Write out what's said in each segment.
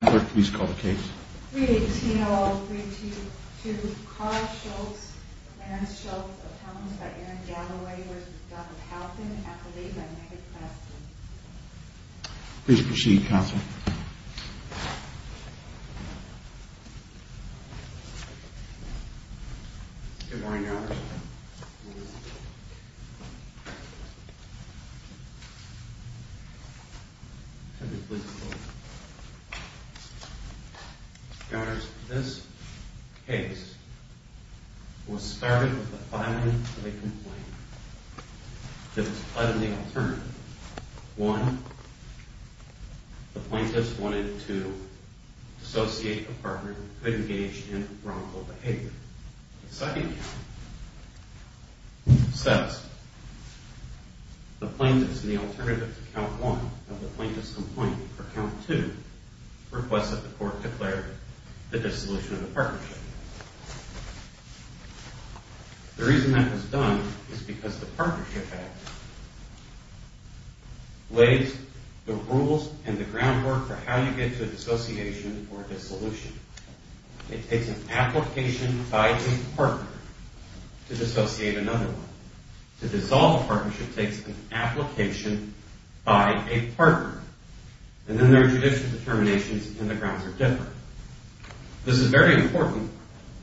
Please call the case. 3-18-0-3-2-2 Carl Schultz, Lance Schultz, appellants by Aaron Galloway, v. Dr. Halpin, accolade by Megha Preston. Please proceed, counsel. Counsel, this case was started with a filing of a complaint. There was five main alternatives. One, the plaintiffs wanted to associate a partner who could engage in wrongful behavior. The second count says the plaintiffs in the alternative to count one of the plaintiffs' complaint for count two request that the court declare the dissolution of the partnership. The reason that was done is because the partnership act lays the rules and the groundwork for how you get to dissociation or dissolution. It takes an application by a partner to dissociate another one. To dissolve a partnership takes an application by a partner. And then there are judicial determinations and the grounds are different. This is very important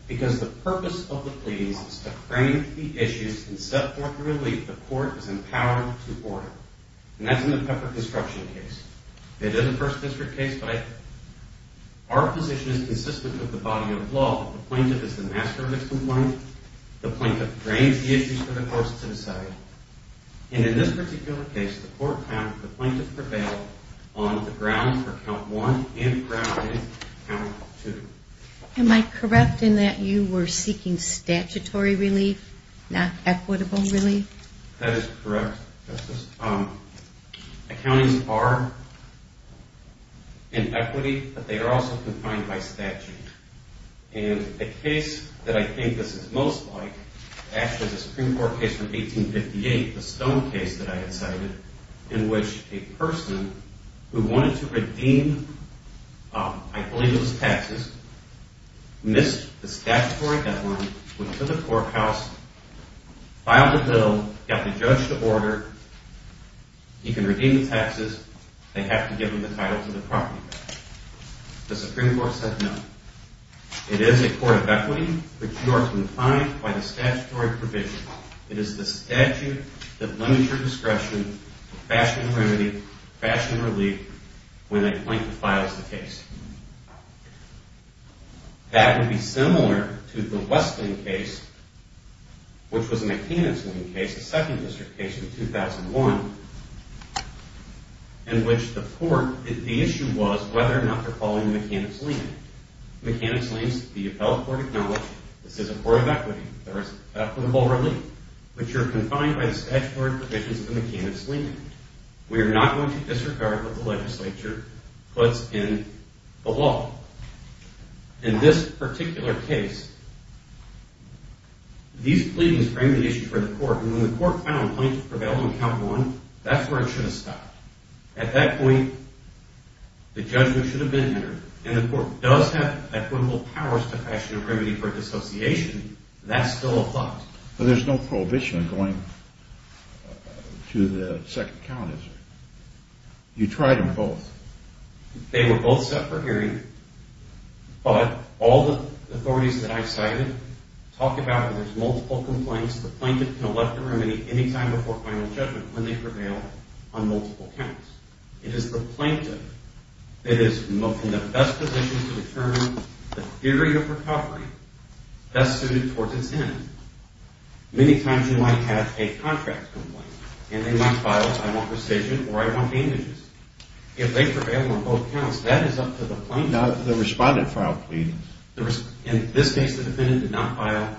because the purpose of the pleas is to frame the issues and set forth the relief the court is empowered to order. And that's in the pepper construction case. It is a first district case, but our position is consistent with the body of law. The plaintiff is the master of the complaint. The plaintiff frames the issues for the court to decide. And in this particular case, the court found that the plaintiff prevailed on the grounds for count one and grounded count two. Am I correct in that you were seeking statutory relief, not equitable relief? That is correct, Justice. Accountings are in equity, but they are also confined by statute. And a case that I think this is most like, actually the Supreme Court case from 1858, the Stone case that I had cited, in which a person who wanted to redeem, I believe it was taxes, missed the statutory deadline, went to the courthouse, filed a bill, got the judge to order, he can redeem the taxes, they have to give him the title to the property tax. The Supreme Court said no. It is a court of equity, but you are confined by the statutory provision. It is the statute that limits your discretion to fashion remedy, fashion relief, when a plaintiff files the case. That would be similar to the Westland case, which was a maintenance lien case, a second district case in 2001, in which the court, the issue was whether or not they are following a mechanics lien. Mechanics liens, the appellate court acknowledged, this is a court of equity, there is equitable relief, but you are confined by the statutory provisions of the mechanics lien. We are not going to disregard what the legislature puts in the law. In this particular case, these pleadings frame the issue for the court, and when the court found plaintiff prevailed on count one, that is where it should have stopped. At that point, the judgment should have been entered, and the court does have equitable powers to fashion a remedy for dissociation, that is still a thought. There is no prohibition going to the second count, is there? You tried them both. They were both set for hearing, but all the authorities that I cited talk about when there are multiple complaints, the plaintiff can elect a remedy any time before final judgment when they prevail on multiple counts. It is the plaintiff that is in the best position to determine the theory of recovery best suited towards its end. Many times you might have a contract complaint, and they might file I want rescission or I want damages. If they prevail on both counts, that is up to the plaintiff. Now, the respondent filed pleadings. In this case, the defendant did not file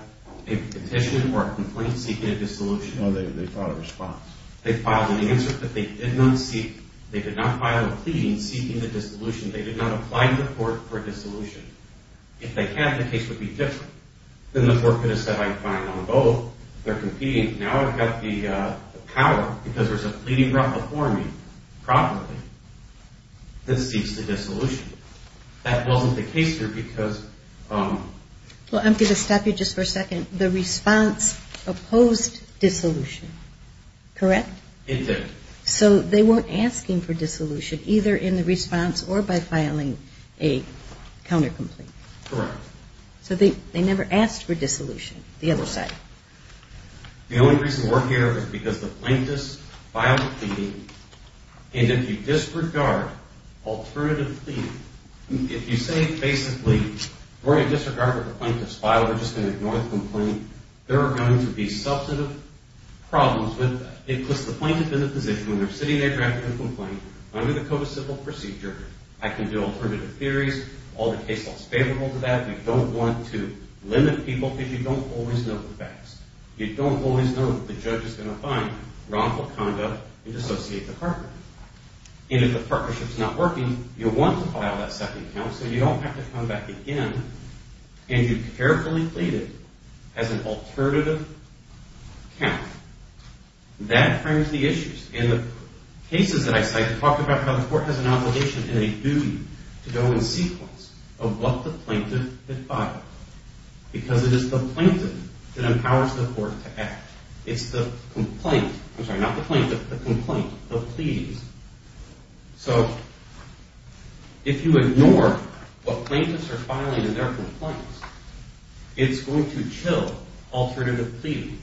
a petition or a complaint seeking a dissolution. No, they filed a response. They filed an answer, but they did not file a pleading seeking a dissolution. They did not apply to the court for a dissolution. If they had, the case would be different. Then the court could have said, I'm fine on both. They're competing. Now I've got the power because there's a pleading brought before me properly that seeks a dissolution. That wasn't the case here because... Well, I'm going to stop you just for a second. The response opposed dissolution, correct? It did. So they weren't asking for dissolution either in the response or by filing a counter complaint. Correct. So they never asked for dissolution, the other side. The only reason we're here is because the plaintiff filed a pleading, and if you disregard alternative pleading, if you say basically, we're going to disregard what the plaintiff's filed, we're just going to ignore the complaint, there are going to be substantive problems with that. It puts the plaintiff in a position where they're sitting there drafting a complaint under the Code of Civil Procedure. I can do alternative theories. All the case law is favorable to that. We don't want to limit people because you don't always know the facts. You don't always know what the judge is going to find wrongful conduct in dissociate department. And if the partnership's not working, you'll want to file that second count so you don't have to come back again, and you carefully plead it as an alternative count. That frames the issues. In the cases that I cite, we talked about how the court has an obligation and a duty to go in sequence of what the plaintiff had filed, because it is the plaintiff that empowers the court to act. It's the complaint, I'm sorry, not the plaintiff, the complaint, the pleas. So if you ignore what plaintiffs are filing in their complaints, it's going to chill alternative pleading.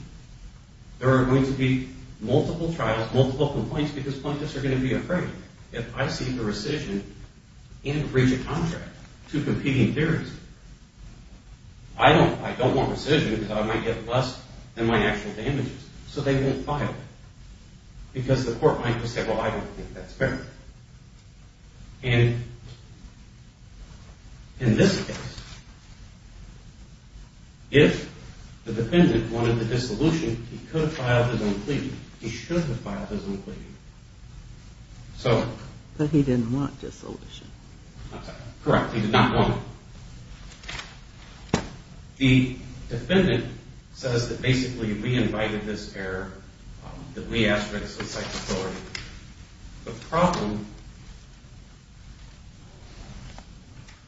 There are going to be multiple trials, multiple complaints, because plaintiffs are going to be afraid. If I see the rescission and breach of contract, two competing theories, I don't want rescission because I might get less than my actual damages, so they won't file it. Because the court might just say, well, I don't think that's fair. And in this case, if the defendant wanted the dissolution, he could have filed his own pleading. He should have filed his own pleading. But he didn't want dissolution. I'm sorry, correct, he did not want it. The defendant says that basically we invited this error, that we asked for it, so it cites authority. The problem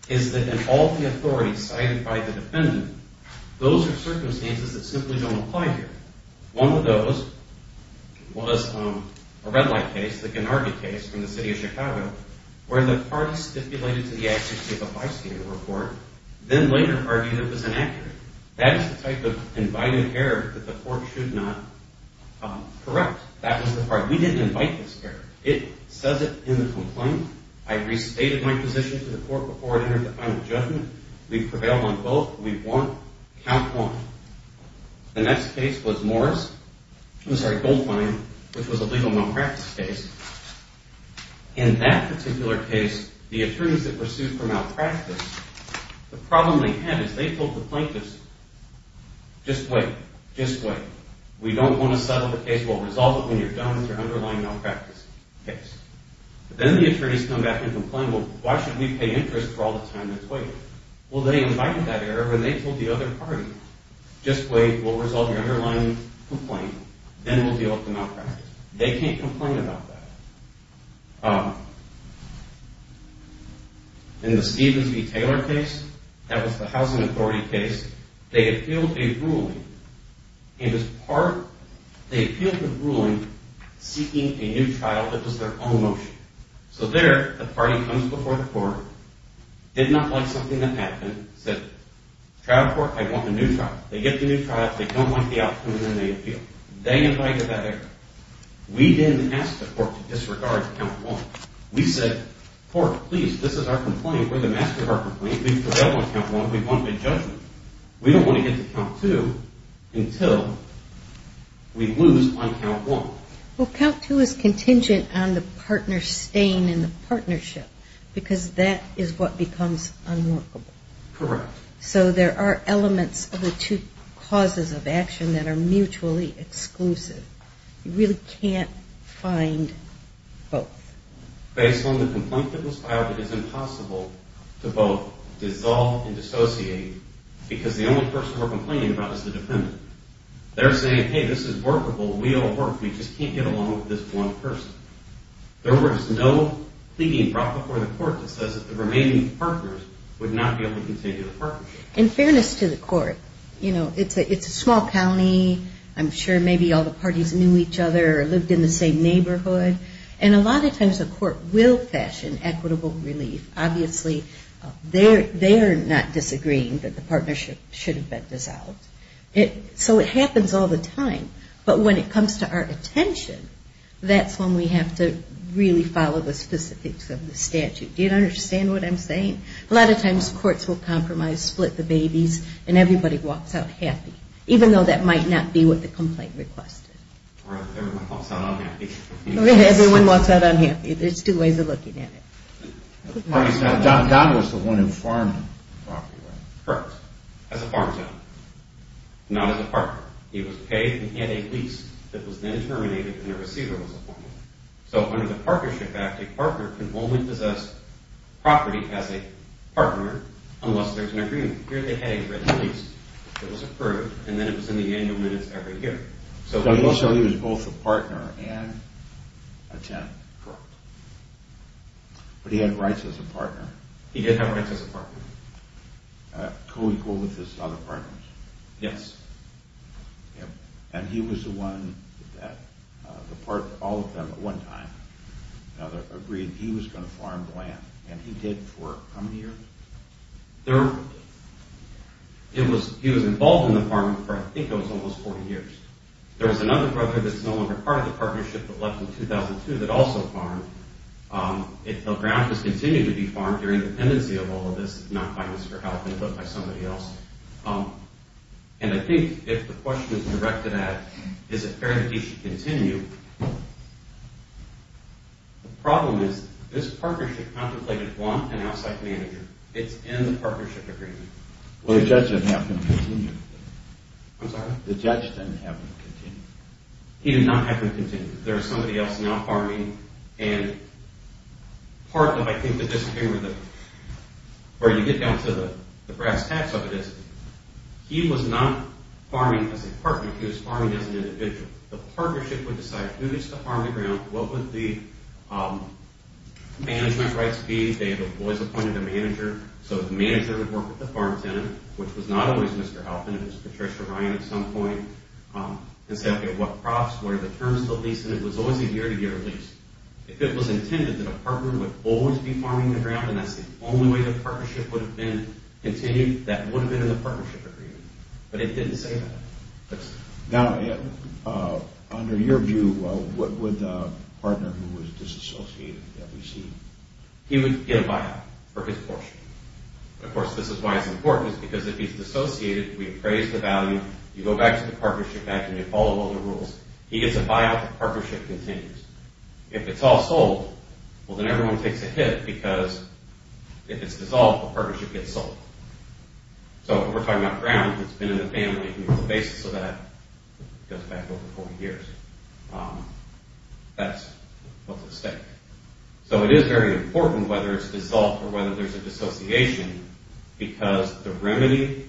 is that in all the authorities cited by the defendant, those are circumstances that simply don't apply here. One of those was a red light case, the Gennardi case from the city of Chicago, where the parties stipulated to the execution of a bystander report, then later argued it was inaccurate. That is the type of invited error that the court should not correct. That was the part. We didn't invite this error. It says it in the complaint. I restated my position to the court before it entered the final judgment. We prevailed on both. We want count one. The next case was Morris, I'm sorry, Goldmine, which was a legal malpractice case. In that particular case, the attorneys that were sued for malpractice, the problem they had is they told the plaintiffs, just wait, just wait, we don't want to settle the case, we'll resolve it when you're done with your underlying malpractice case. But then the attorneys come back and complain, well, why should we pay interest for all the time that's waited? Well, they invited that error when they told the other party, just wait, we'll resolve your underlying complaint, then we'll deal with the malpractice. They can't complain about that. In the Stevens v. Taylor case, that was the Housing Authority case, they appealed a ruling. In this part, they appealed the ruling seeking a new trial that was their own motion. So there, the party comes before the court, did not like something that happened, said, trial court, I want a new trial. They get the new trial, they don't like the outcome, and then they appeal. They invited that error. We didn't ask the court to disregard count one. We said, court, please, this is our complaint, we're the master of our complaint, we've prevailed on count one, we've won the judgment. We don't want to get to count two until we lose on count one. Well, count two is contingent on the partner staying in the partnership, because that is what becomes unworkable. Correct. So there are elements of the two causes of action that are mutually exclusive. You really can't find both. Based on the complaint that was filed, it is impossible to both dissolve and dissociate, because the only person we're complaining about is the defendant. They're saying, hey, this is workable, we'll work, we just can't get along with this one person. There was no pleading brought before the court that says that the remaining partners would not be able to continue the partnership. In fairness to the court, you know, it's a small county, I'm sure maybe all the parties knew each other or lived in the same neighborhood, and a lot of times the court will fashion equitable relief. Obviously they're not disagreeing that the partnership should have been dissolved. So it happens all the time. But when it comes to our attention, that's when we have to really follow the specifics of the statute. Do you understand what I'm saying? A lot of times courts will compromise, split the babies, and everybody walks out happy, even though that might not be what the complaint requested. Or everyone walks out unhappy. Everyone walks out unhappy. There's two ways of looking at it. Don was the one who farmed the property, right? Correct. As a farm town. Not as a partner. He was paid and he had a lease that was then terminated and a receiver was appointed. So under the Partnership Act, a partner can only possess property as a partner unless there's an agreement. Here they had a written lease that was approved, and then it was in the annual minutes every year. So he was both a partner and a tenant. Correct. But he had rights as a partner. He did have rights as a partner. Co-equal with his other partners. Yes. And he was the one that all of them at one time agreed he was going to farm the land. And he did for how many years? He was involved in the farming for I think it was almost 40 years. There was another brother that's no longer part of the partnership that left in 2002 that also farmed. The ground has continued to be farmed during the pendency of all of this, not by Mr. Halpin, but by somebody else. And I think if the question is directed at is it fair that he should continue, the problem is this partnership contemplated want and outside manager. It's in the partnership agreement. Well, the judge didn't have him continue. I'm sorry? The judge didn't have him continue. He did not have him continue. There's somebody else now farming, and part of I think the disagreement, or you get down to the brass tacks of this, he was not farming as a partner. He was farming as an individual. The partnership would decide who needs to farm the ground, what would the management rights be. They had always appointed a manager, so the manager would work with the farm tenant, which was not always Mr. Halpin. It was Patricia Ryan at some point. And say, okay, what crops? What are the terms of the lease? And it was always a year-to-year lease. If it was intended that a partner would always be farming the ground, and that's the only way the partnership would have been continued, that would have been in the partnership agreement. But it didn't say that. Now, under your view, what would the partner who was disassociated receive? He would get a buyout for his portion. Of course, this is why it's important, because if he's dissociated, we appraise the value, you go back to the partnership act, and you follow all the rules. He gets a buyout, the partnership continues. If it's all sold, well, then everyone takes a hit, because if it's dissolved, the partnership gets sold. So if we're talking about ground, it's been in the family, and the basis of that goes back over 40 years. That's what's at stake. So it is very important whether it's dissolved or whether there's a dissociation, because the remedy,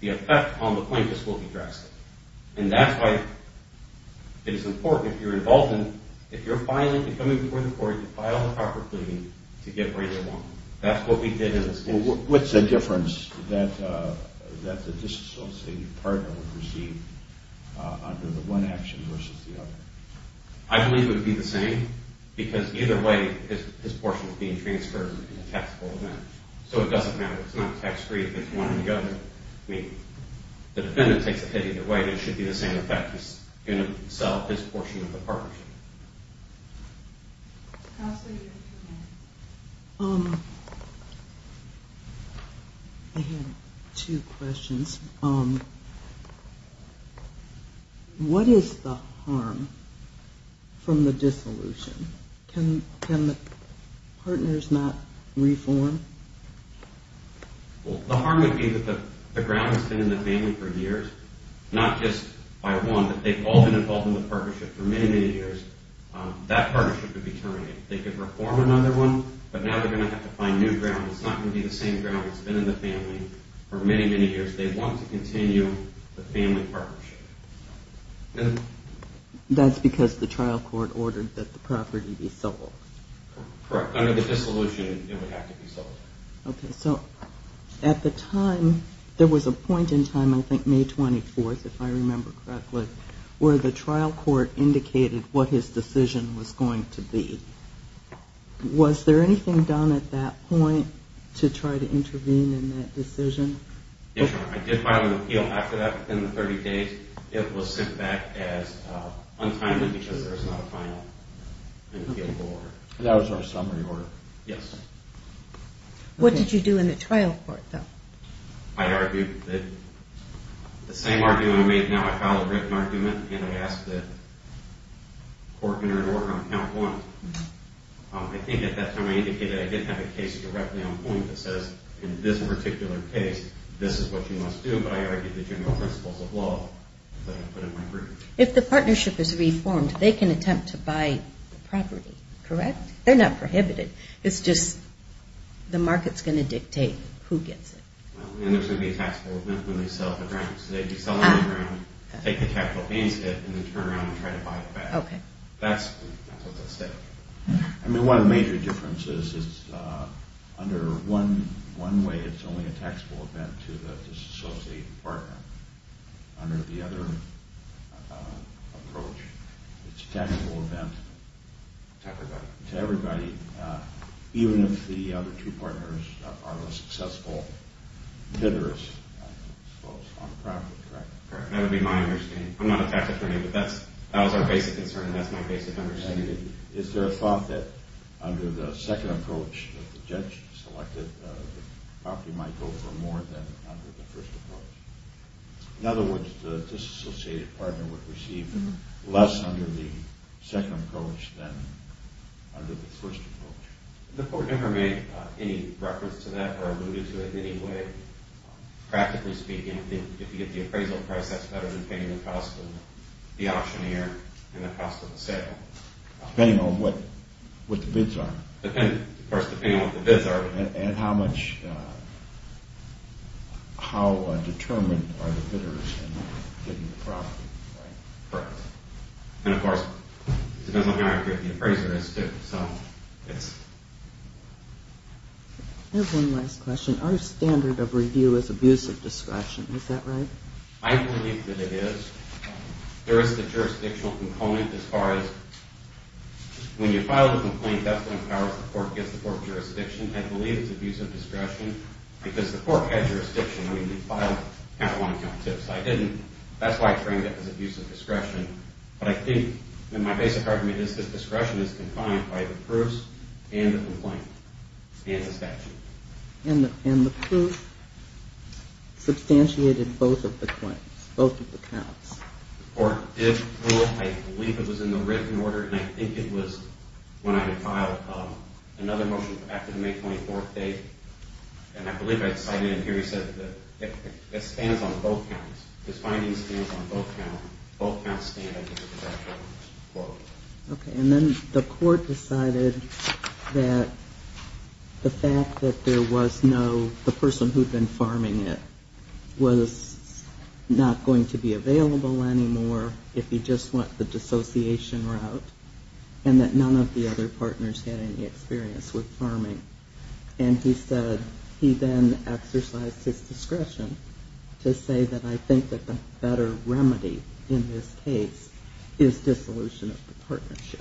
the effect on the plaintiff's will be drastic. And that's why it is important if you're involved in, if you're filing and coming before the court to file the proper plea to get where you want. That's what we did in this case. What's the difference that the disassociated partner would receive under the one action versus the other? I believe it would be the same, because either way, his portion is being transferred in a taxable amount. So it doesn't matter. It's not tax-free if it's one or the other. I mean, the defendant takes a hit either way, and it should be the same effect. He's going to sell his portion of the partnership. Counselor, you have two minutes. I have two questions. What is the harm from the dissolution? Can the partners not reform? Well, the harm would be that the ground has been in the family for years, not just by one, but they've all been involved in the partnership for many, many years. That partnership would be terminated. They could reform another one, but now they're going to have to find new ground. It's not going to be the same ground that's been in the family for many, many years. They want to continue the family partnership. That's because the trial court ordered that the property be sold. Okay, so at the time, there was a point in time, I think May 24th, if I remember correctly, where the trial court indicated what his decision was going to be. Was there anything done at that point to try to intervene in that decision? Yes, Your Honor. I did file an appeal after that within the 30 days. It was sent back untimely because there was not a final appeal order. That was our summary order, yes. What did you do in the trial court, though? I argued that the same argument I made, now I file a written argument, and I ask that court enter an order on count one. I think at that time I indicated I didn't have a case directly on point that says, in this particular case, this is what you must do, but I argued the general principles of law that I put in my brief. If the partnership is reformed, they can attempt to buy the property, correct? They're not prohibited. It's just the market's going to dictate who gets it. And there's going to be a taxable event when they sell the grounds. They'd be selling the ground, take the capital gains debt, and then turn around and try to buy it back. That's what's at stake. I mean, one of the major differences is under one way, it's only a taxable event to associate a partner. Under the other approach, it's a taxable event to everybody, even if the other two partners are unsuccessful bidders, I suppose, on the property, correct? That would be my understanding. I'm not a tax attorney, but that was our basic concern, and that's my basic understanding. Is there a thought that under the second approach, the property might go for more than under the first approach? In other words, the disassociated partner would receive less under the second approach than under the first approach. The court never made any reference to that or alluded to it in any way. Practically speaking, if you get the appraisal price, that's better than paying the cost of the auctioneer and the cost of the sale. Depending on what the bids are. Of course, depending on what the bids are. And how determined are the bidders in bidding the property, right? Correct. And, of course, it depends on how accurate the appraiser is, too. I have one last question. Our standard of review is abusive discretion. Is that right? I believe that it is. There is the jurisdictional component as far as when you file the complaint, the court gets the court jurisdiction. I believe it's abusive discretion because the court had jurisdiction. I mean, you filed at one time. So I didn't. That's why I framed it as abusive discretion. But I think, and my basic argument is that discretion is confined by the proofs and the complaint and the statute. And the proofs substantiated both of the claims, both of the counts. The court did prove, I believe it was in the written order, and I think it was when I had filed another motion after the May 24th date. And I believe I cited it here. He said that it stands on both counts. His finding stands on both counts. Both counts stand under the discretion of the court. Okay. And then the court decided that the fact that there was no, the person who had been farming it was not going to be available anymore if he just went the dissociation route and that none of the other partners had any experience with farming. And he said he then exercised his discretion to say that I think that the better remedy in this case is dissolution of the partnership.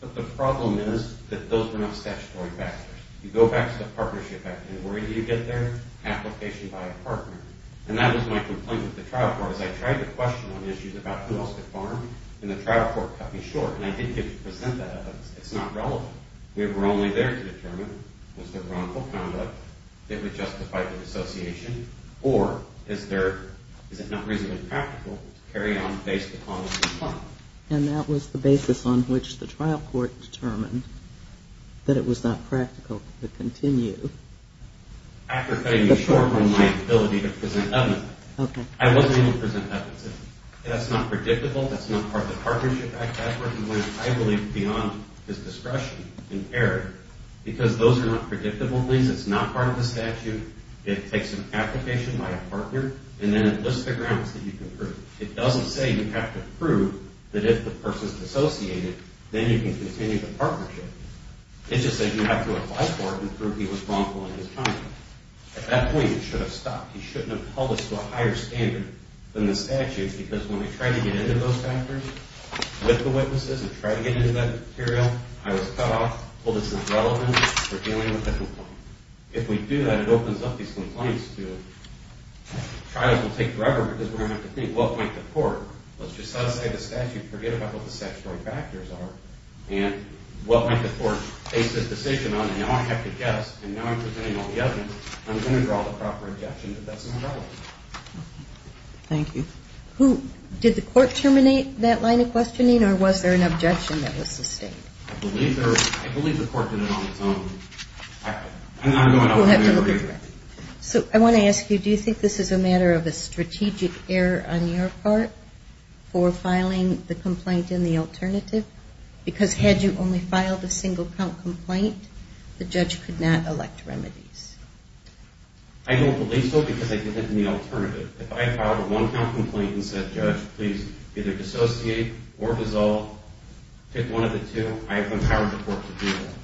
But the problem is that those are not statutory factors. You go back to the partnership act, and where do you get there? Application by a partner. And that was my complaint with the trial court. As I tried to question on issues about who else could farm, and the trial court cut me short. And I didn't get to present that evidence. It's not relevant. We were only there to determine was there wrongful conduct that would justify the dissociation or is there, is it not reasonably practical to carry on based upon what we found. And that was the basis on which the trial court determined that it was not practical to continue. After cutting me short on my ability to present evidence, I wasn't able to present evidence. That's not predictable. That's not part of the partnership act. That's where he went, I believe, beyond his discretion in error. Because those are not predictable things. It's not part of the statute. It takes an application by a partner, and then it lists the grounds that you can prove. It doesn't say you have to prove that if the person is dissociated, then you can continue the partnership. It just says you have to apply for it and prove he was wrongful in his conduct. At that point, it should have stopped. He shouldn't have held us to a higher standard than the statute because when we tried to get into those factors with the witnesses and tried to get into that material, I was cut off. Well, this is irrelevant. We're dealing with a complaint. If we do that, it opens up these complaints to us. Trials will take forever because we're going to have to think what might the court, let's just set aside the statute, forget about what the statutory factors are, and what might the court base this decision on, and now I have to guess, and now I'm presenting all the evidence, I'm going to draw the proper objection if that's not relevant. Thank you. Did the court terminate that line of questioning, or was there an objection that was sustained? I believe the court did it on its own. I'm not going off on that. So I want to ask you, do you think this is a matter of a strategic error on your part for filing the complaint in the alternative? Because had you only filed a single-count complaint, the judge could not elect remedies. I don't believe so because I did it in the alternative. If I filed a one-count complaint and said, Judge, please either dissociate or dissolve, pick one of the two, I have empowered the court to do that.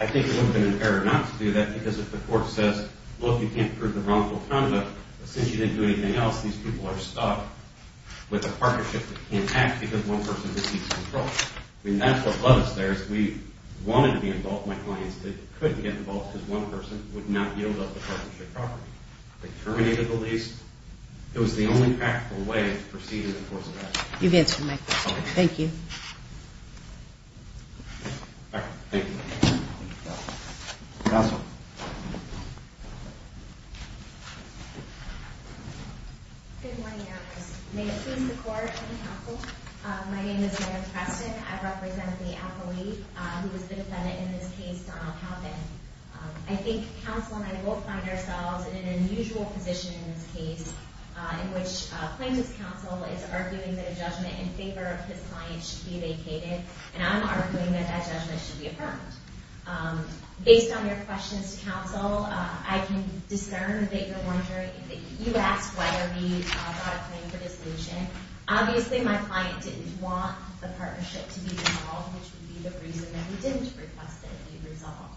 I think it would have been fairer not to do that because if the court says, Look, you can't prove the wrongful conduct, but since you didn't do anything else, these people are stuck with a partnership that can't act because one person receives control. I mean, that's what got us there is we wanted to be involved in my clients that couldn't get involved because one person would not yield up the partnership properly. They terminated the lease. It was the only practical way to proceed in the course of action. You've answered my question. Thank you. All right. Thank you. Counsel. Good morning, Your Honor. May it please the court and the counsel. My name is Mary Preston. I represent the employee who was defendant in this case, Donald Halpin. I think counsel and I both find ourselves in an unusual position in this case in which plaintiff's counsel is arguing that a judgment in favor of his client should be vacated, and I'm arguing that that judgment should be affirmed. Based on your questions, counsel, I can discern that you're wondering, that you asked whether we brought a claim for dissolution. Obviously, my client didn't want the partnership to be resolved, which would be the reason that we didn't request it be resolved.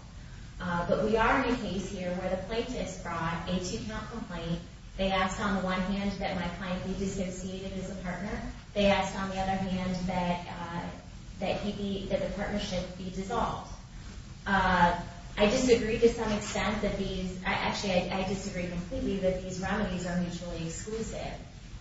But we are in a case here where the plaintiff's brought a two-count complaint. They asked on the one hand that my client be disassociated as a partner. They asked, on the other hand, that the partnership be dissolved. I disagree to some extent that these – actually, I disagree completely that these remedies are mutually exclusive.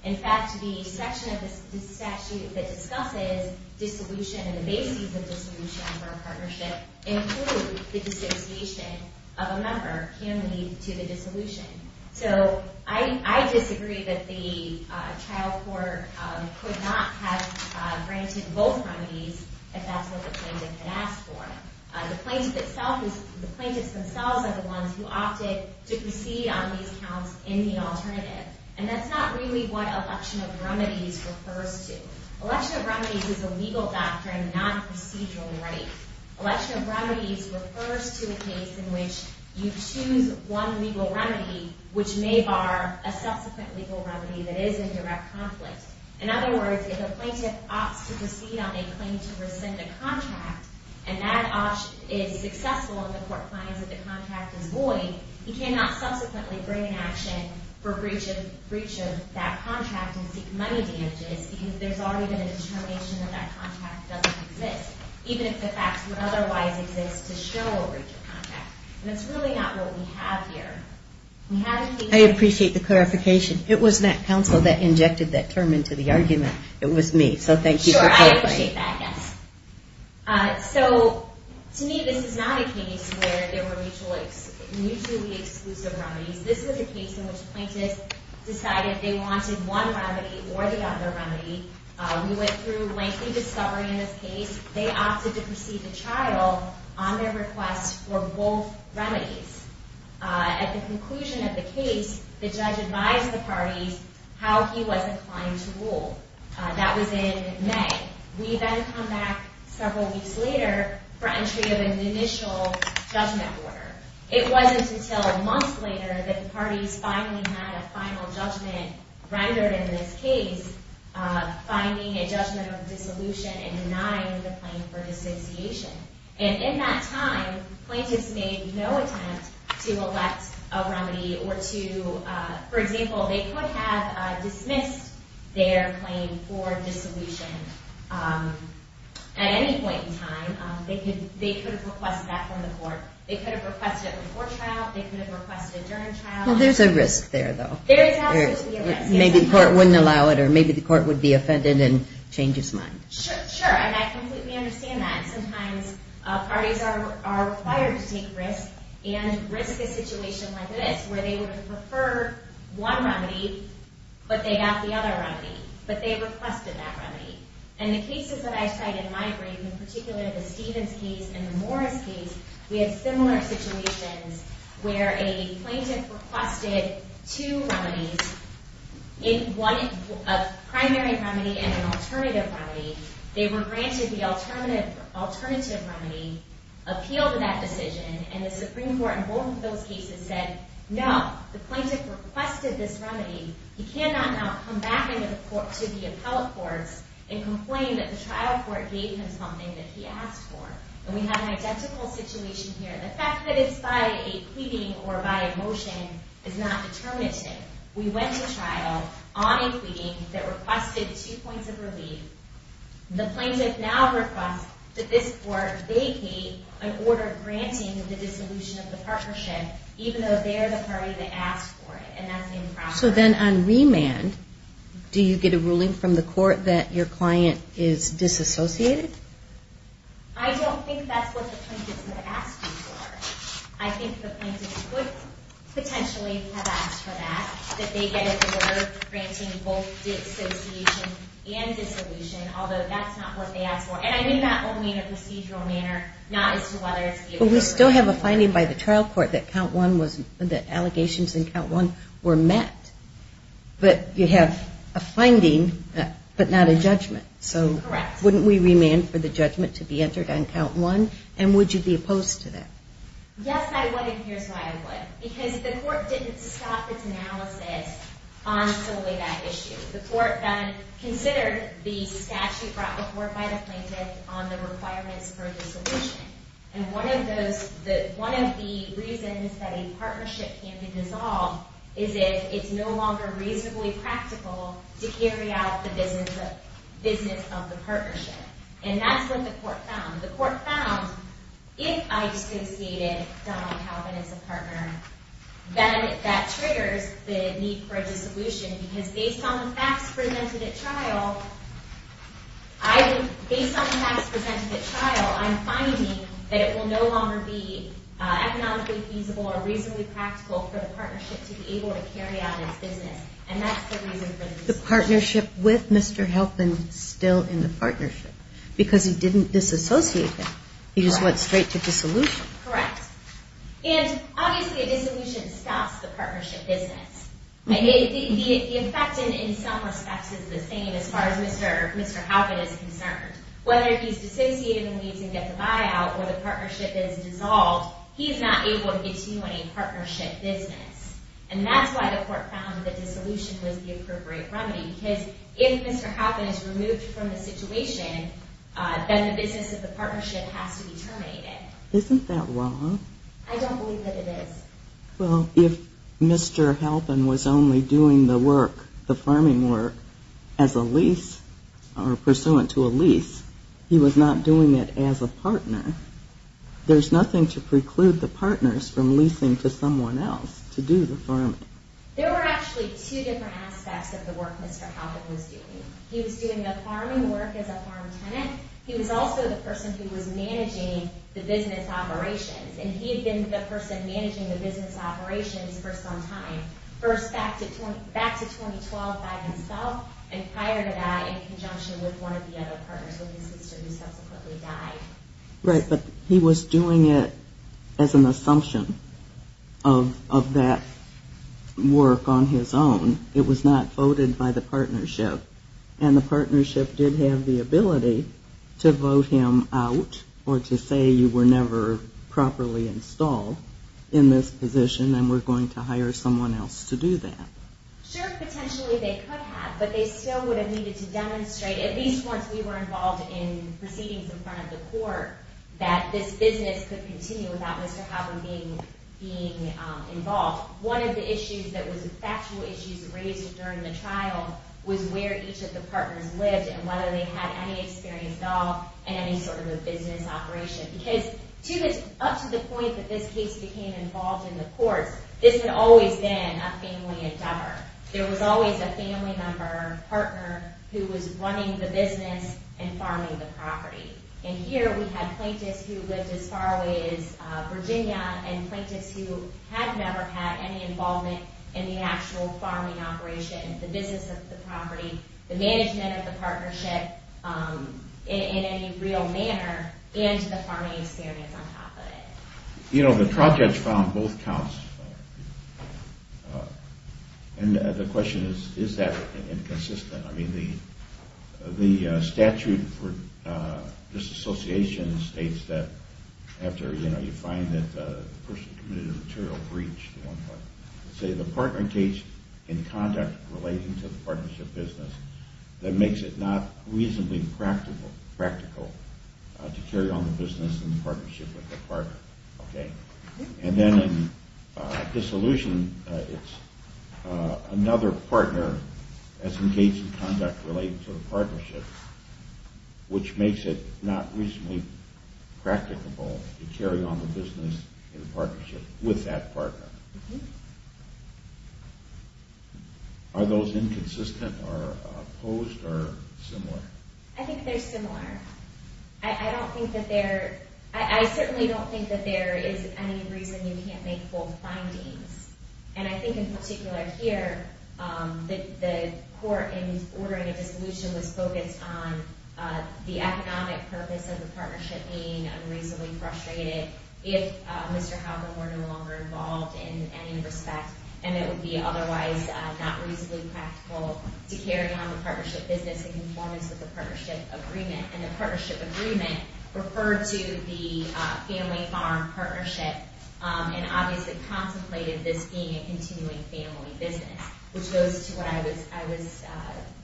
In fact, the section of the statute that discusses dissolution and the basis of dissolution for a partnership include the dissociation of a member, him, to the dissolution. So I disagree that the trial court could not have granted both remedies if that's what the plaintiff had asked for. The plaintiff itself is – the plaintiffs themselves are the ones who opted to proceed on these counts in the alternative. And that's not really what election of remedies refers to. Election of remedies is a legal doctrine, not a procedural right. Election of remedies refers to a case in which you choose one legal remedy which may bar a subsequent legal remedy that is in direct conflict. In other words, if a plaintiff opts to proceed on a claim to rescind a contract and that option is successful and the court finds that the contract is void, he cannot subsequently bring an action for breach of that contract and seek money damages because there's already been a determination that that contract doesn't exist, even if the facts would otherwise exist to show a breach of contract. And that's really not what we have here. I appreciate the clarification. It was that counsel that injected that term into the argument. It was me, so thank you for clarifying. Sure, I appreciate that, yes. So to me, this is not a case where there were mutually exclusive remedies. This was a case in which plaintiffs decided they wanted one remedy or the other remedy. We went through lengthy discovery in this case. They opted to proceed to trial on their request for both remedies. At the conclusion of the case, the judge advised the parties how he was inclined to rule. That was in May. We then come back several weeks later for entry of an initial judgment order. It wasn't until months later that the parties finally had a final judgment rendered in this case finding a judgment of dissolution and denying the claim for disassociation. And in that time, plaintiffs made no attempt to elect a remedy or to, for example, they could have dismissed their claim for dissolution at any point in time. They could have requested that from the court. They could have requested it before trial. They could have requested it during trial. Well, there's a risk there, though. There is absolutely a risk. Maybe the court wouldn't allow it or maybe the court would be offended and change its mind. Sure, sure, and I completely understand that. Sometimes parties are required to take risks and risk a situation like this where they would prefer one remedy but they got the other remedy, but they requested that remedy. And the cases that I cite in my brief, in particular the Stevens case and the Morris case, we have similar situations where a plaintiff requested two remedies, a primary remedy and an alternative remedy. They were granted the alternative remedy, appealed that decision, and the Supreme Court in both of those cases said, no, the plaintiff requested this remedy. He cannot now come back to the appellate courts and complain that the trial court gave him something that he asked for. And we have an identical situation here. The fact that it's by a pleading or by a motion is not determinative. We went to trial on a pleading that requested two points of relief. The plaintiff now requests that this court vacate an order granting the dissolution of the partnership even though they're the party that asked for it, and that's improper. So then on remand, do you get a ruling from the court that your client is disassociated? I don't think that's what the plaintiff's going to ask you for. I think the plaintiff could potentially have asked for that, that they get an order granting both dissociation and dissolution, although that's not what they asked for. And I mean that only in a procedural manner, not as to whether it's able to work. But we still have a finding by the trial court that count one was, that allegations in count one were met. But you have a finding but not a judgment. Correct. Wouldn't we remand for the judgment to be entered on count one? And would you be opposed to that? Yes, I would, and here's why I would. Because the court didn't stop its analysis on solely that issue. The court then considered the statute brought before it by the plaintiff on the requirements for dissolution. And one of the reasons that a partnership can be dissolved is if it's no longer reasonably practical to carry out the business of the partnership. And that's what the court found. The court found if I dissociated Donald Calvin as a partner, then that triggers the need for a dissolution, because based on the facts presented at trial, I'm finding that it will no longer be economically feasible or reasonably practical for the partnership to be able to carry out its business. And that's the reason for the dissolution. The partnership with Mr. Halpin is still in the partnership, because he didn't disassociate him. He just went straight to dissolution. Correct. And obviously a dissolution stops the partnership business. The effect in some respects is the same as far as Mr. Halpin is concerned. Whether he's dissociated the needs and gets a buyout or the partnership is dissolved, he is not able to continue any partnership business. And that's why the court found that dissolution was the appropriate remedy, because if Mr. Halpin is removed from the situation, then the business of the partnership has to be terminated. Isn't that wrong? I don't believe that it is. Well, if Mr. Halpin was only doing the work, the farming work, as a lease or pursuant to a lease, he was not doing it as a partner, there's nothing to preclude the partners from leasing to someone else to do the farming. There were actually two different aspects of the work Mr. Halpin was doing. He was doing the farming work as a farm tenant. He was also the person who was managing the business operations, and he had been the person managing the business operations for some time, first back to 2012 by himself, and hired that in conjunction with one of the other partners with his sister who subsequently died. Right, but he was doing it as an assumption of that work on his own. It was not voted by the partnership, and the partnership did have the ability to vote him out or to say you were never properly installed in this position and we're going to hire someone else to do that. Sure, potentially they could have, but they still would have needed to demonstrate, at least once we were involved in proceedings in front of the court, that this business could continue without Mr. Halpin being involved. One of the factual issues raised during the trial was where each of the partners lived and whether they had any experience at all in any sort of a business operation, because up to the point that this case became involved in the courts, this had always been a family endeavor. There was always a family member or partner who was running the business and farming the property, and here we had plaintiffs who lived as far away as Virginia and plaintiffs who had never had any involvement in the actual farming operation, the business of the property, the management of the partnership in any real manner, and the farming experience on top of it. You know, the trial judge found both counts, and the question is, is that inconsistent? I mean, the statute for disassociation states that after, you know, you find that the person committed a material breach, let's say the partner engaged in conduct relating to the partnership business, that makes it not reasonably practical to carry on the business in partnership with the partner, okay? And then in dissolution, it's another partner that's engaged in conduct relating to the partnership, which makes it not reasonably practicable to carry on the business in partnership with that partner. Are those inconsistent or opposed or similar? I think they're similar. I don't think that there – I certainly don't think that there is any reason you can't make full findings, and I think in particular here that the court in ordering a dissolution was focused on the economic purpose of the partnership being unreasonably frustrated if Mr. Halpern were no longer involved in any respect, and it would be otherwise not reasonably practical to carry on the partnership business in conformance with the partnership agreement. And the partnership agreement referred to the family farm partnership and obviously contemplated this being a continuing family business, which goes to what I was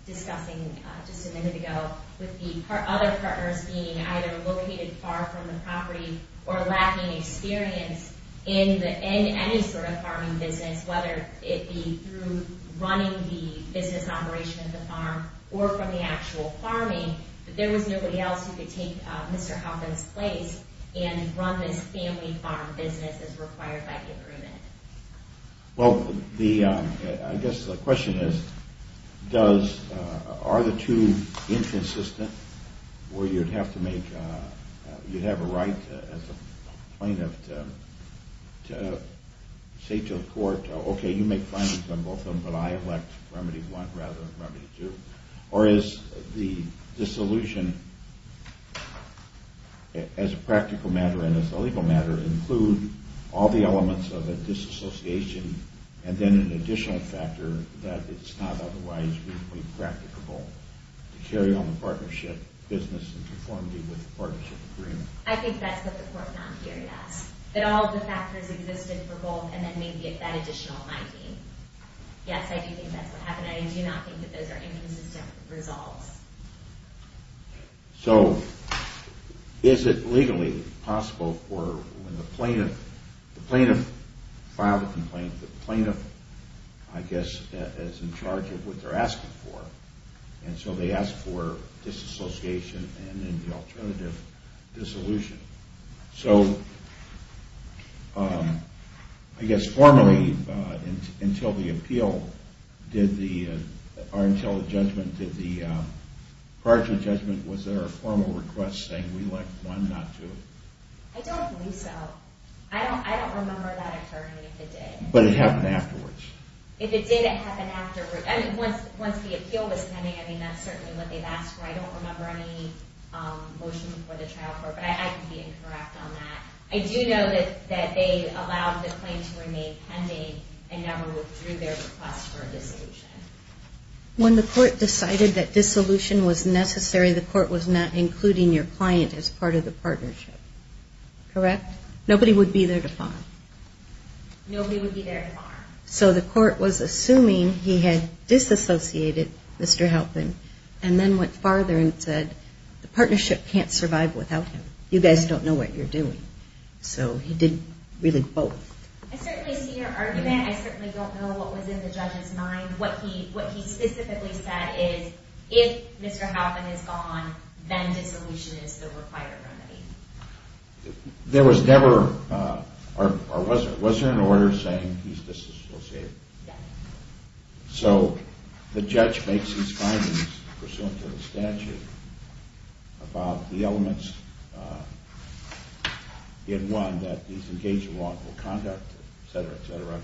discussing just a minute ago with the other partners being either located far from the property or lacking experience in any sort of farming business, whether it be through running the business operation of the farm or from the actual farming, that there was nobody else who could take Mr. Halpern's place and run this family farm business as required by the agreement. Well, I guess the question is, are the two inconsistent where you'd have to make – as a plaintiff to say to the court, okay, you make findings on both of them, but I elect remedy one rather than remedy two, or is the dissolution as a practical matter and as a legal matter include all the elements of a disassociation and then an additional factor that it's not otherwise reasonably practicable to carry on the partnership business in conformity with the partnership agreement? I think that's what the court found here, yes. That all the factors existed for both and then maybe that additional might be. Yes, I do think that's what happened. I do not think that those are inconsistent results. So, is it legally possible for when the plaintiff filed a complaint, the plaintiff, I guess, is in charge of what they're asking for, and so they ask for disassociation and then the alternative, dissolution. So, I guess formally until the appeal did the – or until the judgment did the – prior to the judgment, was there a formal request saying we elect one, not two? I don't believe so. I don't remember that occurring if it did. But it happened afterwards? If it did, it happened afterwards. I mean, once the appeal was pending, I mean, that's certainly what they've asked for. I don't remember any motion before the trial court, but I could be incorrect on that. I do know that they allowed the claim to remain pending and never withdrew their request for a dissolution. When the court decided that dissolution was necessary, the court was not including your client as part of the partnership, correct? Nobody would be there to file? Nobody would be there to file. So the court was assuming he had disassociated Mr. Halpin and then went farther and said the partnership can't survive without him. You guys don't know what you're doing. So he did really both. I certainly see your argument. I certainly don't know what was in the judge's mind. What he specifically said is if Mr. Halpin is gone, then dissolution is the required remedy. There was never, or was there, an order saying he's disassociated? No. So the judge makes his findings, pursuant to the statute, about the elements in one that he's engaged in wrongful conduct, etc., etc.,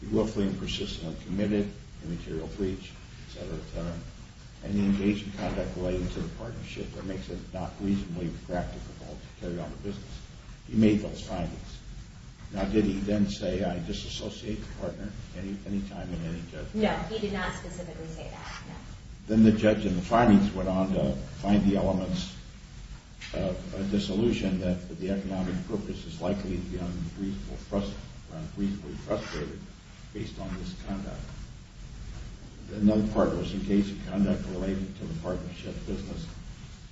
he will flee and persist in a committed immaterial breach, etc., etc., and he engaged in conduct relating to the partnership that makes it not reasonably practicable to carry on the business. He made those findings. Now, did he then say, I disassociate the partner any time in any judgment? No, he did not specifically say that, no. Then the judge in the findings went on to find the elements of dissolution that the economic purpose is likely to be unreasonably frustrated based on this conduct. Another part was engaged in conduct relating to the partnership business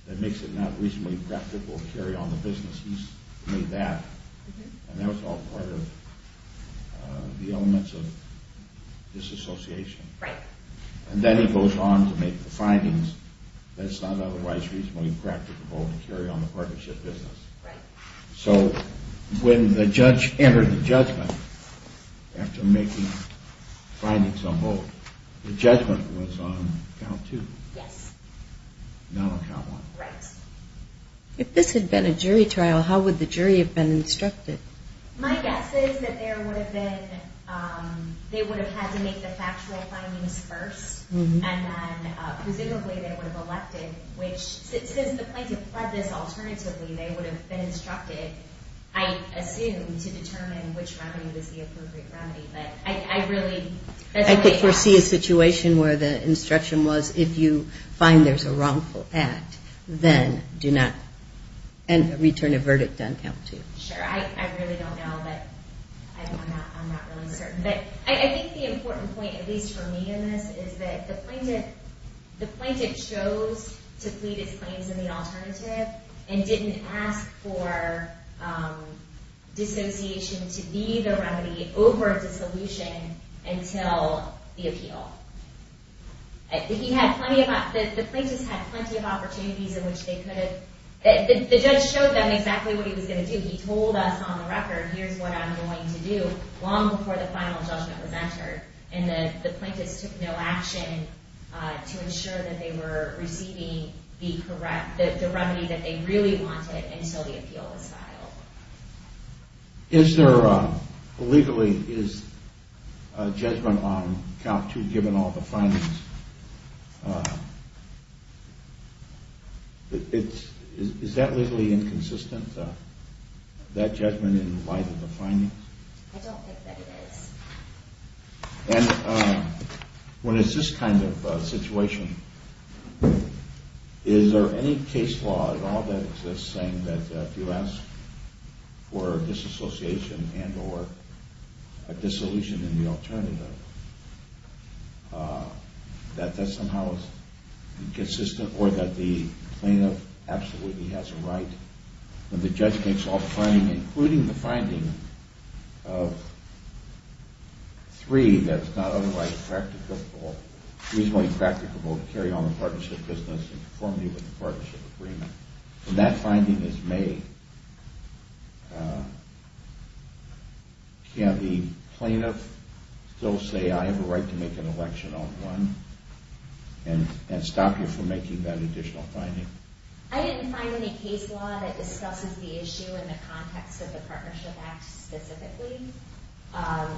that makes it not reasonably practicable to carry on the business. He made that, and that was all part of the elements of disassociation. And then he goes on to make the findings that it's not otherwise reasonably practicable to carry on the partnership business. So when the judge entered the judgment after making findings on both, the judgment was on count two. Yes. Not on count one. Right. If this had been a jury trial, how would the jury have been instructed? My guess is that there would have been, they would have had to make the factual findings first, and then presumably they would have elected, which since the plaintiff fled this alternatively, they would have been instructed, I assume, to determine which remedy was the appropriate remedy. But I really don't know. I could foresee a situation where the instruction was, if you find there's a wrongful act, then do not, and return a verdict on count two. Sure. I really don't know, but I'm not really certain. But I think the important point, at least for me in this, is that the plaintiff chose to plead his claims in the alternative and didn't ask for dissociation to be the remedy over dissolution until the appeal. The plaintiffs had plenty of opportunities in which they could have, the judge showed them exactly what he was going to do. He told us on the record, here's what I'm going to do, long before the final judgment was entered. And the plaintiffs took no action to ensure that they were receiving the remedy that they really wanted until the appeal was filed. Is there legally a judgment on count two, given all the findings? Is that legally inconsistent, that judgment in light of the findings? I don't think that it is. And when it's this kind of situation, is there any case law at all that says that if you ask for dissociation and or dissolution in the alternative, that that somehow is inconsistent, or that the plaintiff absolutely has a right, when the judge makes all the findings, including the finding of three that's not otherwise reasonably practicable to carry on the partnership business in conformity with the partnership agreement. When that finding is made, can the plaintiff still say, I have a right to make an election on one, and stop you from making that additional finding? I didn't find any case law that discusses the issue in the context of the Partnership Act specifically. I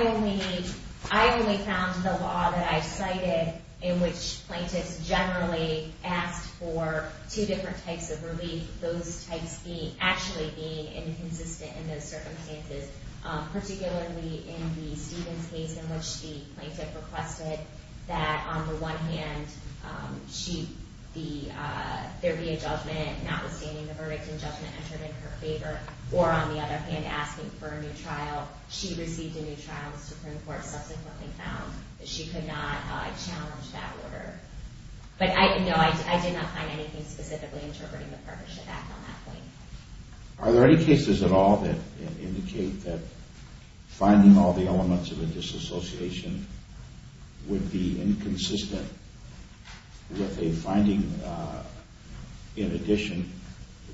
only found the law that I cited, in which plaintiffs generally asked for two different types of relief, those types actually being inconsistent in those circumstances, particularly in the Stevens case, in which the plaintiff requested that, on the one hand, there be a judgment notwithstanding the verdict and judgment entered in her favor, or, on the other hand, asking for a new trial. She received a new trial, and the Supreme Court subsequently found that she could not challenge that order. But no, I did not find anything specifically interpreting the Partnership Act on that point. Are there any cases at all that indicate that finding all the elements of a disassociation would be inconsistent with a finding, in addition,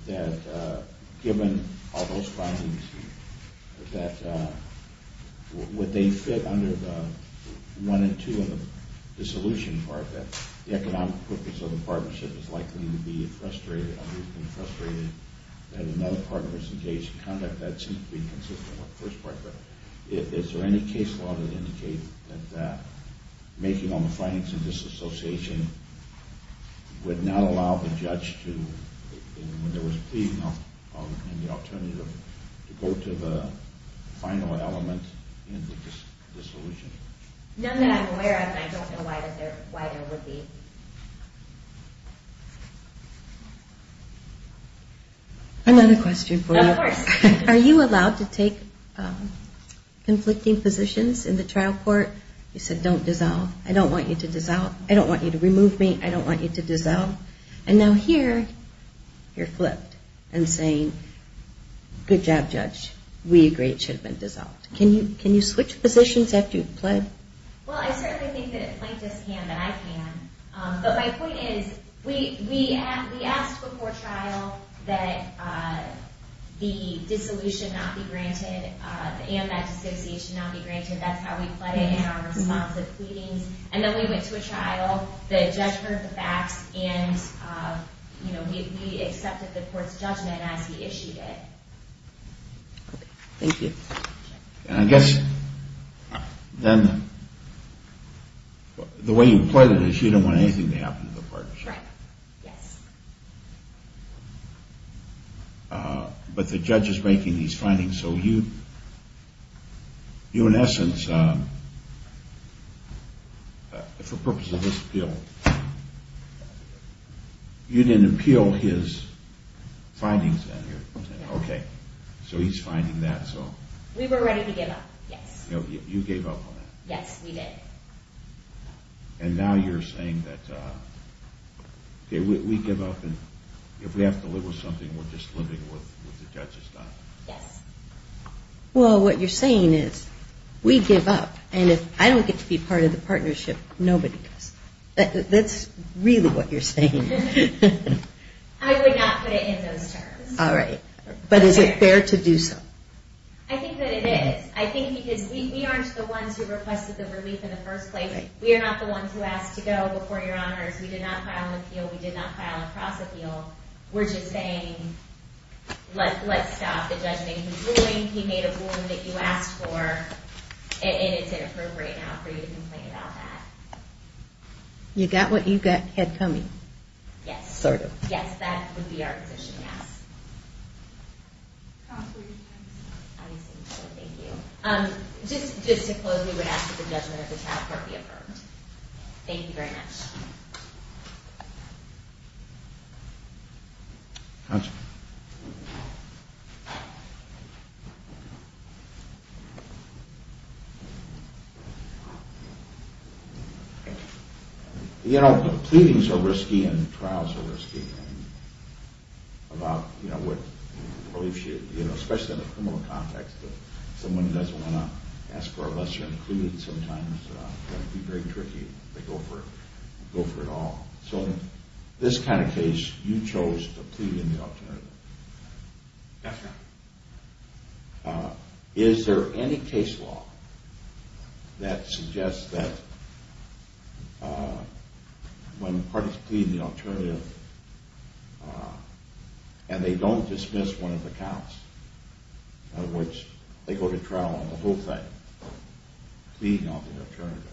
that given all those findings, that would they fit under the one and two in the dissolution part, that the economic purpose of the partnership is likely to be frustrated, and another partner is engaged in conduct that seems to be consistent with the first partner? Is there any case law that indicates that making all the findings of disassociation would not allow the judge to, when there was pleading of any alternative, to go to the final element in the dissolution? None that I'm aware of, and I don't know why there would be. Another question for you. Of course. Are you allowed to take conflicting positions in the trial court? You said, don't dissolve. I don't want you to dissolve. I don't want you to remove me. I don't want you to dissolve. And now here, you're flipped and saying, good job, judge. We agree it should have been dissolved. Can you switch positions after you've pled? Well, I certainly think that plaintiffs can, that I can. But my point is, we asked before trial that the dissolution not be granted and that dissociation not be granted. That's how we pled it in our response of pleadings. And then we went to a trial, the judge heard the facts, and we accepted the court's judgment as he issued it. Thank you. And I guess then the way you pled it is you don't want anything to happen to the partnership. Right. Yes. But the judge is making these findings, so you, in essence, for purposes of this appeal, you didn't appeal his findings then. Okay. So he's finding that, so. We were ready to give up, yes. You gave up on that. Yes, we did. And now you're saying that, okay, we give up, and if we have to live with something, we're just living with what the judge has done. Yes. Well, what you're saying is, we give up, and if I don't get to be part of the partnership, nobody does. That's really what you're saying. I would not put it in those terms. All right. But is it fair to do so? I think that it is. I think because we aren't the ones who requested the relief in the first place. We are not the ones who asked to go before Your Honors. We did not file an appeal. We did not file a cross-appeal. We're just saying, let's stop. The judge made a ruling. He made a ruling that you asked for, and it's inappropriate now for you to complain about that. You got what you had coming. Yes. Sort of. Yes, that would be our position, yes. Just to close, we would ask that the judgment of the child court be affirmed. Thank you very much. You know, the pleadings are risky and the trials are risky. And about, you know, what relief should, you know, especially in a criminal context, someone who doesn't want to ask for a lesser included sometimes can be very tricky. They go for it all. So in this kind of case, you chose to plead in the alternative. Yes, sir. Is there any case law that suggests that when parties plead in the alternative and they don't dismiss one of the counts, in other words, they go to trial on the whole thing, pleading on the alternative,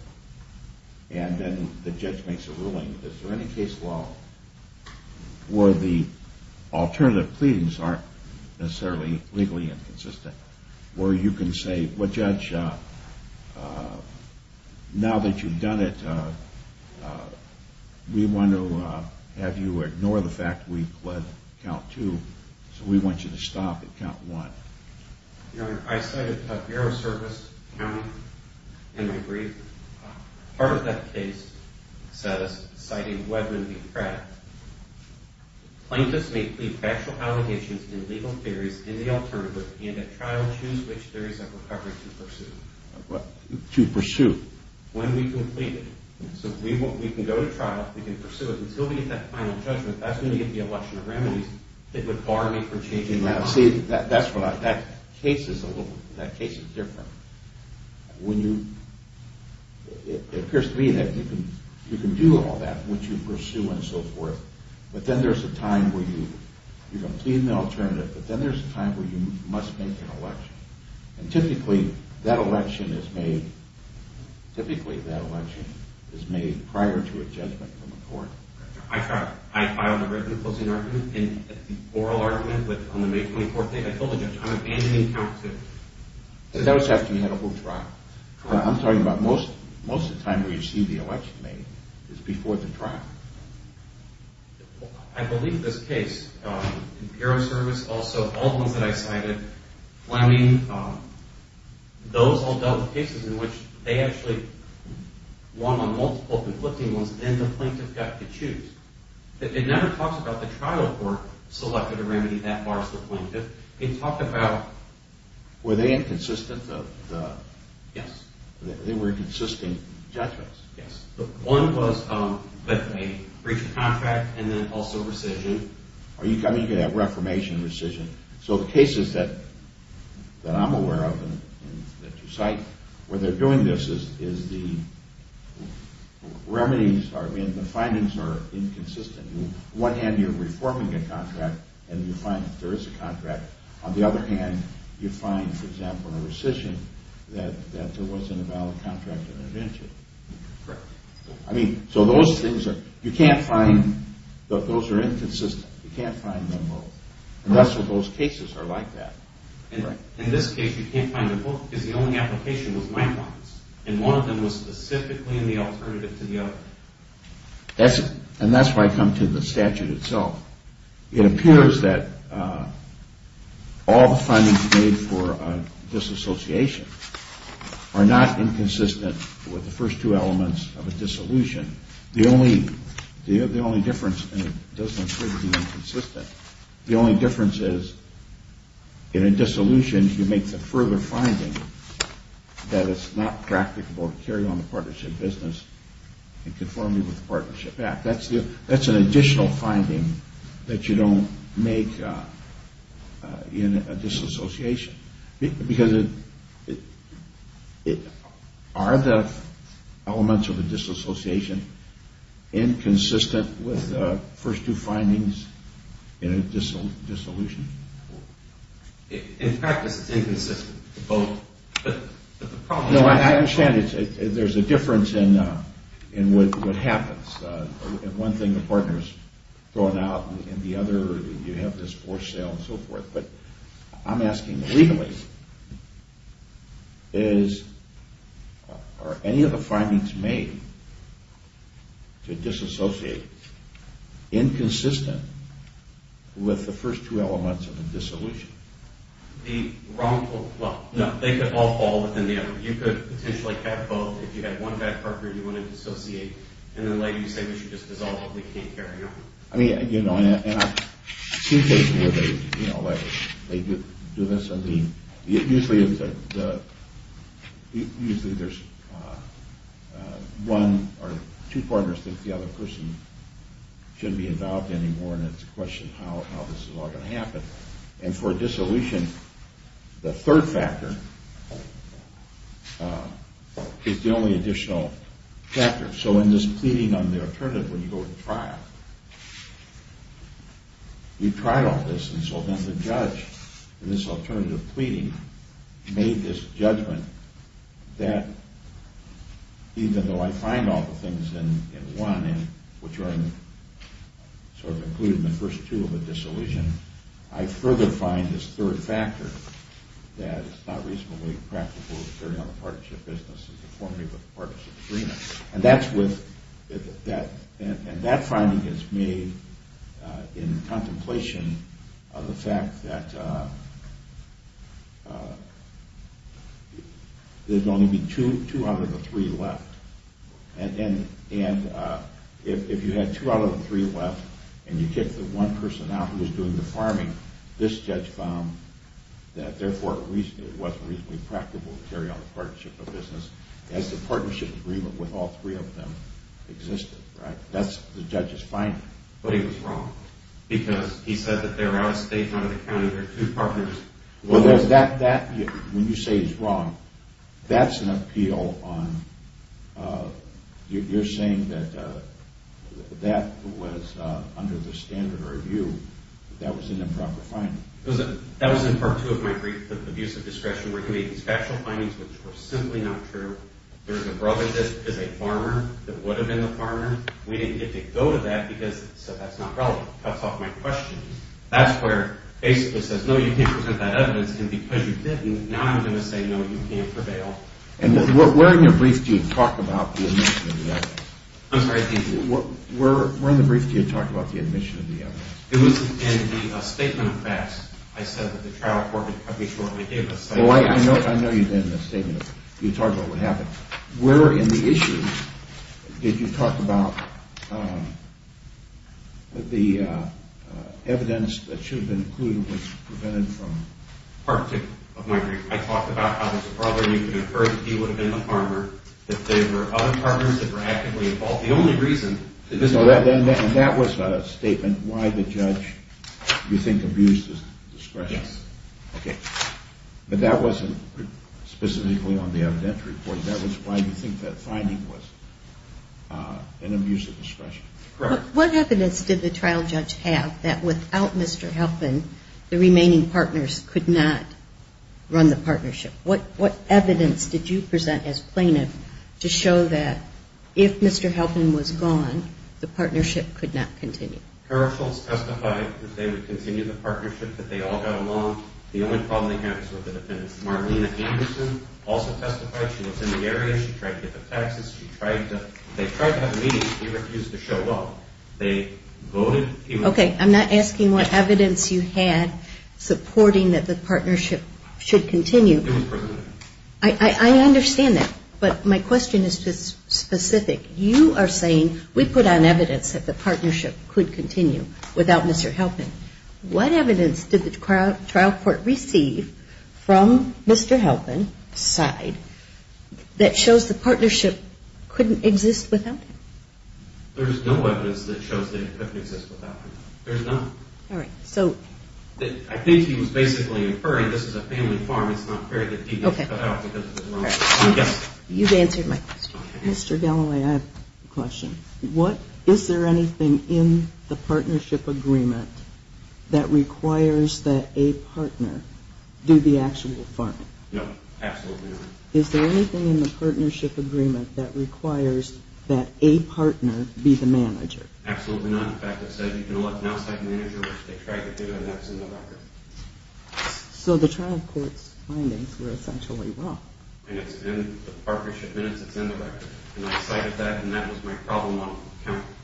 and then the judge makes a ruling, is there any case law where the alternative pleadings aren't necessarily legally inconsistent where you can say, Well, Judge, now that you've done it, we want to have you ignore the fact we pled count two, so we want you to stop at count one. You know, I cited a bureau service count in my brief. Part of that case cited whether the plaintiffs may plead factual allegations in legal theories in the alternative, and at trial choose which theories of recovery to pursue. To pursue. When we complete it. So we can go to trial, we can pursue it, until we get that final judgment, that's going to give me a bunch of remedies that would bar me from changing my mind. See, that's what I, that case is a little, that case is different. When you, it appears to me that you can do all that, which you pursue and so forth, but then there's a time where you, you're going to plead in the alternative, but then there's a time where you must make an election. And typically, that election is made, typically that election is made prior to a judgment from the court. I filed a written opposing argument, an oral argument, but on the May 24th date, I told the judge I'm abandoning count two. That was after you had a whole trial. I'm talking about most, most of the time where you see the election made, is before the trial. I believe this case, in Paro Service, also all the ones that I cited, I mean, those all dealt with cases in which they actually won on multiple conflicting ones, and the plaintiff got to choose. It never talks about the trial court selected a remedy that bars the plaintiff. Were they inconsistent? Yes. They were inconsistent judgments? Yes. One was a breach of contract and then also rescission. Are you coming to that reformation rescission? So the cases that I'm aware of and that you cite, where they're doing this is the remedies, I mean, the findings are inconsistent. On one hand, you're reforming a contract, and you find that there is a contract. On the other hand, you find, for example, in a rescission that there wasn't a valid contract intervention. Correct. I mean, so those things are, you can't find, those are inconsistent. You can't find them both. And that's what those cases are like that. In this case, you can't find them both because the only application was nine months, and one of them was specifically in the alternative to the other. And that's why I come to the statute itself. It appears that all the findings made for disassociation are not inconsistent with the first two elements of a dissolution. The only difference, and it doesn't appear to be inconsistent, the only difference is in a dissolution, you make the further finding that it's not practicable to carry on the partnership business in conformity with the Partnership Act. That's an additional finding that you don't make in a disassociation. Because are the elements of a disassociation inconsistent with the first two findings in a dissolution? In practice, it's inconsistent. No, I understand. There's a difference in what happens. One thing, the partner's thrown out, and the other, you have this forced sale and so forth. But I'm asking, legally, are any of the findings made to disassociate inconsistent with the first two elements of a dissolution? They could all fall within the effort. You could potentially have both. If you had one bad partner you wanted to dissociate, and then later you say we should just dissolve, we can't carry on. I mean, you know, and I see cases where they do this. I mean, usually there's one or two partners that the other person shouldn't be involved anymore, and it's a question of how this is all going to happen. And for a dissolution, the third factor is the only additional factor. So in this pleading on the alternative, when you go to trial, you've tried all this, and so then the judge in this alternative pleading made this judgment that even though I find all the things in one, which are sort of included in the first two of a dissolution, I further find this third factor that it's not reasonably practical to carry on the partnership business as a formative of the partnership agreement. And that finding is made in contemplation of the fact that there's only going to be two out of the three left. And if you had two out of the three left, and you kicked the one person out who was doing the farming, this judge found that therefore it wasn't reasonably practical to carry on the partnership of business as the partnership agreement with all three of them existed. That's the judge's finding. But he was wrong, because he said that they were out of state, out of the county, there were two partners. Well, when you say he's wrong, that's an appeal on... You're saying that that was under the standard of review. That was an improper finding. That was in part two of my brief, the abuse of discretion, where he made these factual findings which were simply not true. There's a brother that is a farmer, that would have been the farmer. We didn't get to go to that, so that's not relevant. That's off my question. That's where basically it says, no, you can't present that evidence, and because you didn't, now I'm going to say, no, you can't prevail. And where in your brief do you talk about the admission of the evidence? I'm sorry? Where in the brief do you talk about the admission of the evidence? It was in the statement of facts. I said that the trial court would come before me and give a statement. Well, I know you did in the statement. You talked about what happened. Where in the issue did you talk about the evidence that should have been included was prevented from... Part two of my brief. I talked about how there's a brother. You could have heard that he would have been the farmer, that there were other farmers that were actively involved. The only reason... And that was a statement why the judge, you think, abused his discretion. Yes. Okay. But that wasn't specifically on the evidentiary point. That was why you think that finding was an abuse of discretion. Correct. What evidence did the trial judge have that without Mr. Helfman, the remaining partners could not run the partnership? What evidence did you present as plaintiff to show that if Mr. Helfman was gone, the partnership could not continue? Carol Schultz testified that they would continue the partnership, that they all got along. The only problem they had was with the defendants. Margarita Anderson also testified. She was in the area. She tried to get the taxes. They tried to have meetings. She refused to show up. They voted... Okay. I'm not asking what evidence you had supporting that the partnership should continue. It was presented. I understand that. But my question is just specific. You are saying we put on evidence that the partnership could continue without Mr. Helfman. What evidence did the trial court receive from Mr. Helfman's side that shows the partnership couldn't exist without him? There's no evidence that shows that it couldn't exist without him. There's none. All right. So... I think he was basically inferring this is a family farm. It's not fair that he was cut out because of the wrong... You've answered my question. Mr. Galloway, I have a question. Is there anything in the partnership agreement that requires that a partner do the actual farming? No. Absolutely not. Is there anything in the partnership agreement that requires that a partner be the manager? Absolutely not. In fact, it says you can now cite manager, which they tried to do, and that's in the record. So the trial court's findings were essentially wrong. And it's in the partnership minutes. It's in the record. And I cited that, and that was my problem on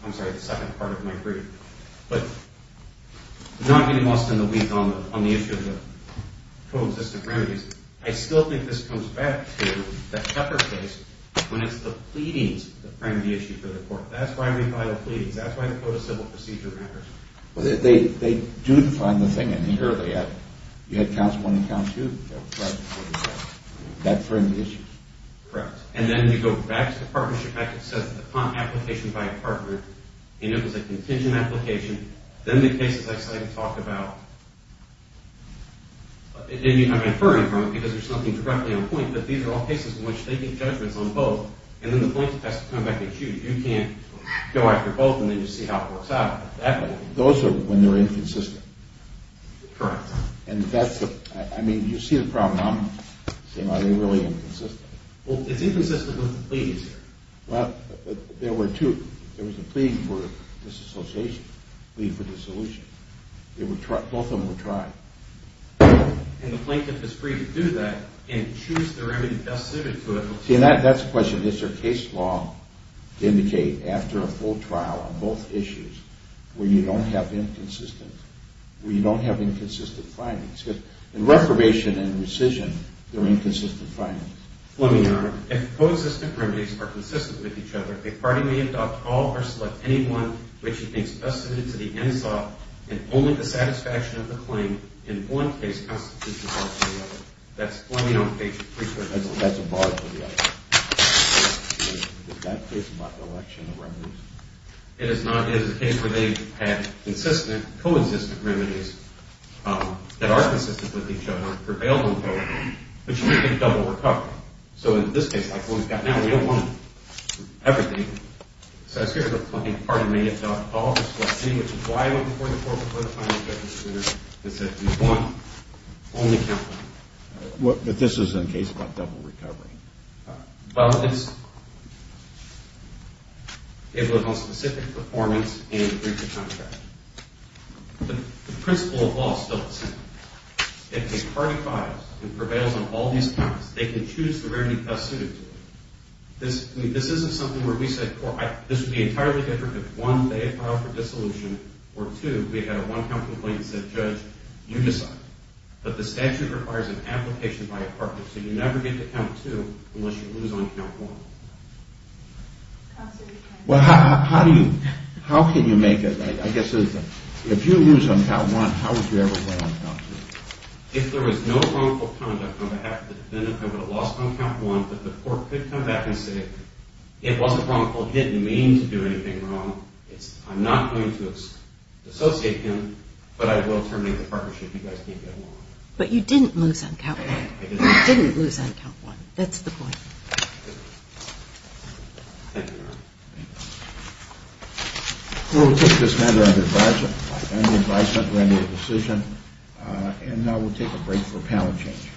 the second part of my brief. But not getting lost in the weeds on the issue of the co-existent remedies, I still think this comes back to the Tucker case when it's the pleadings that frame the issue for the court. That's why we file pleadings. That's why the code of civil procedure matters. They do define the thing in here. You had counts one and count two. That framed the issue. Correct. And then you go back to the partnership packet that says the application by a partner, and it was a contingent application. Then the case that I cited talked about, and I'm inferring from it because there's nothing directly on point, but these are all cases in which they get judgments on both, and then the plaintiff has to come back and shoot. You can't go after both and then just see how it works out. Those are when they're inconsistent. Correct. And that's the – I mean, you see the problem. I'm saying are they really inconsistent? Well, it's inconsistent with the pleadings here. Well, there were two. There was a plea for disassociation, a plea for dissolution. Both of them were tried. And the plaintiff is free to do that and choose the remedy best suited to it. See, and that's the question. Is there case law to indicate after a full trial on both issues where you don't have inconsistent findings? Because in reformation and rescission, there are inconsistent findings. Fleming, Your Honor, if co-existent remedies are consistent with each other, a party may adopt all or select any one which it thinks best suited to the end thought and only the satisfaction of the claim in one case constitutes a bar to the other. That's Fleming on page 3. That's a bar to the other. Is that case about the election of remedies? It is not. It is a case where they had consistent, co-existent remedies that are consistent with each other, but you get double recovery. So in this case, like the one we've got now, we don't want everything. So here's a claim, a party may adopt all or select any which is why I went before the court, before the final judgment of the jurors, and said we want only counseling. But this isn't a case about double recovery. Well, it's able to hold specific performance in a breach of contract. The principle of law is still the same. If a party files and prevails on all these counts, they can choose the remedy best suited to them. This isn't something where we said, this would be entirely different if one, they had filed for dissolution, or two, we had a one-count complaint and said, Judge, you decide. But the statute requires an application by a partner, so you never get to count two unless you lose on count one. Well, how can you make a, I guess, if you lose on count one, how would you ever play on count two? If there was no wrongful conduct on behalf of the defendant, I would have lost on count one, but the court could come back and say, it wasn't wrongful, it didn't mean to do anything wrong. I'm not going to associate him, but I will terminate the partnership. You guys can't get along. But you didn't lose on count one. You didn't lose on count one. That's the point. Thank you, Your Honor. We will take this matter under advisement. Under advisement, render a decision. And now we'll take a break for a panel change.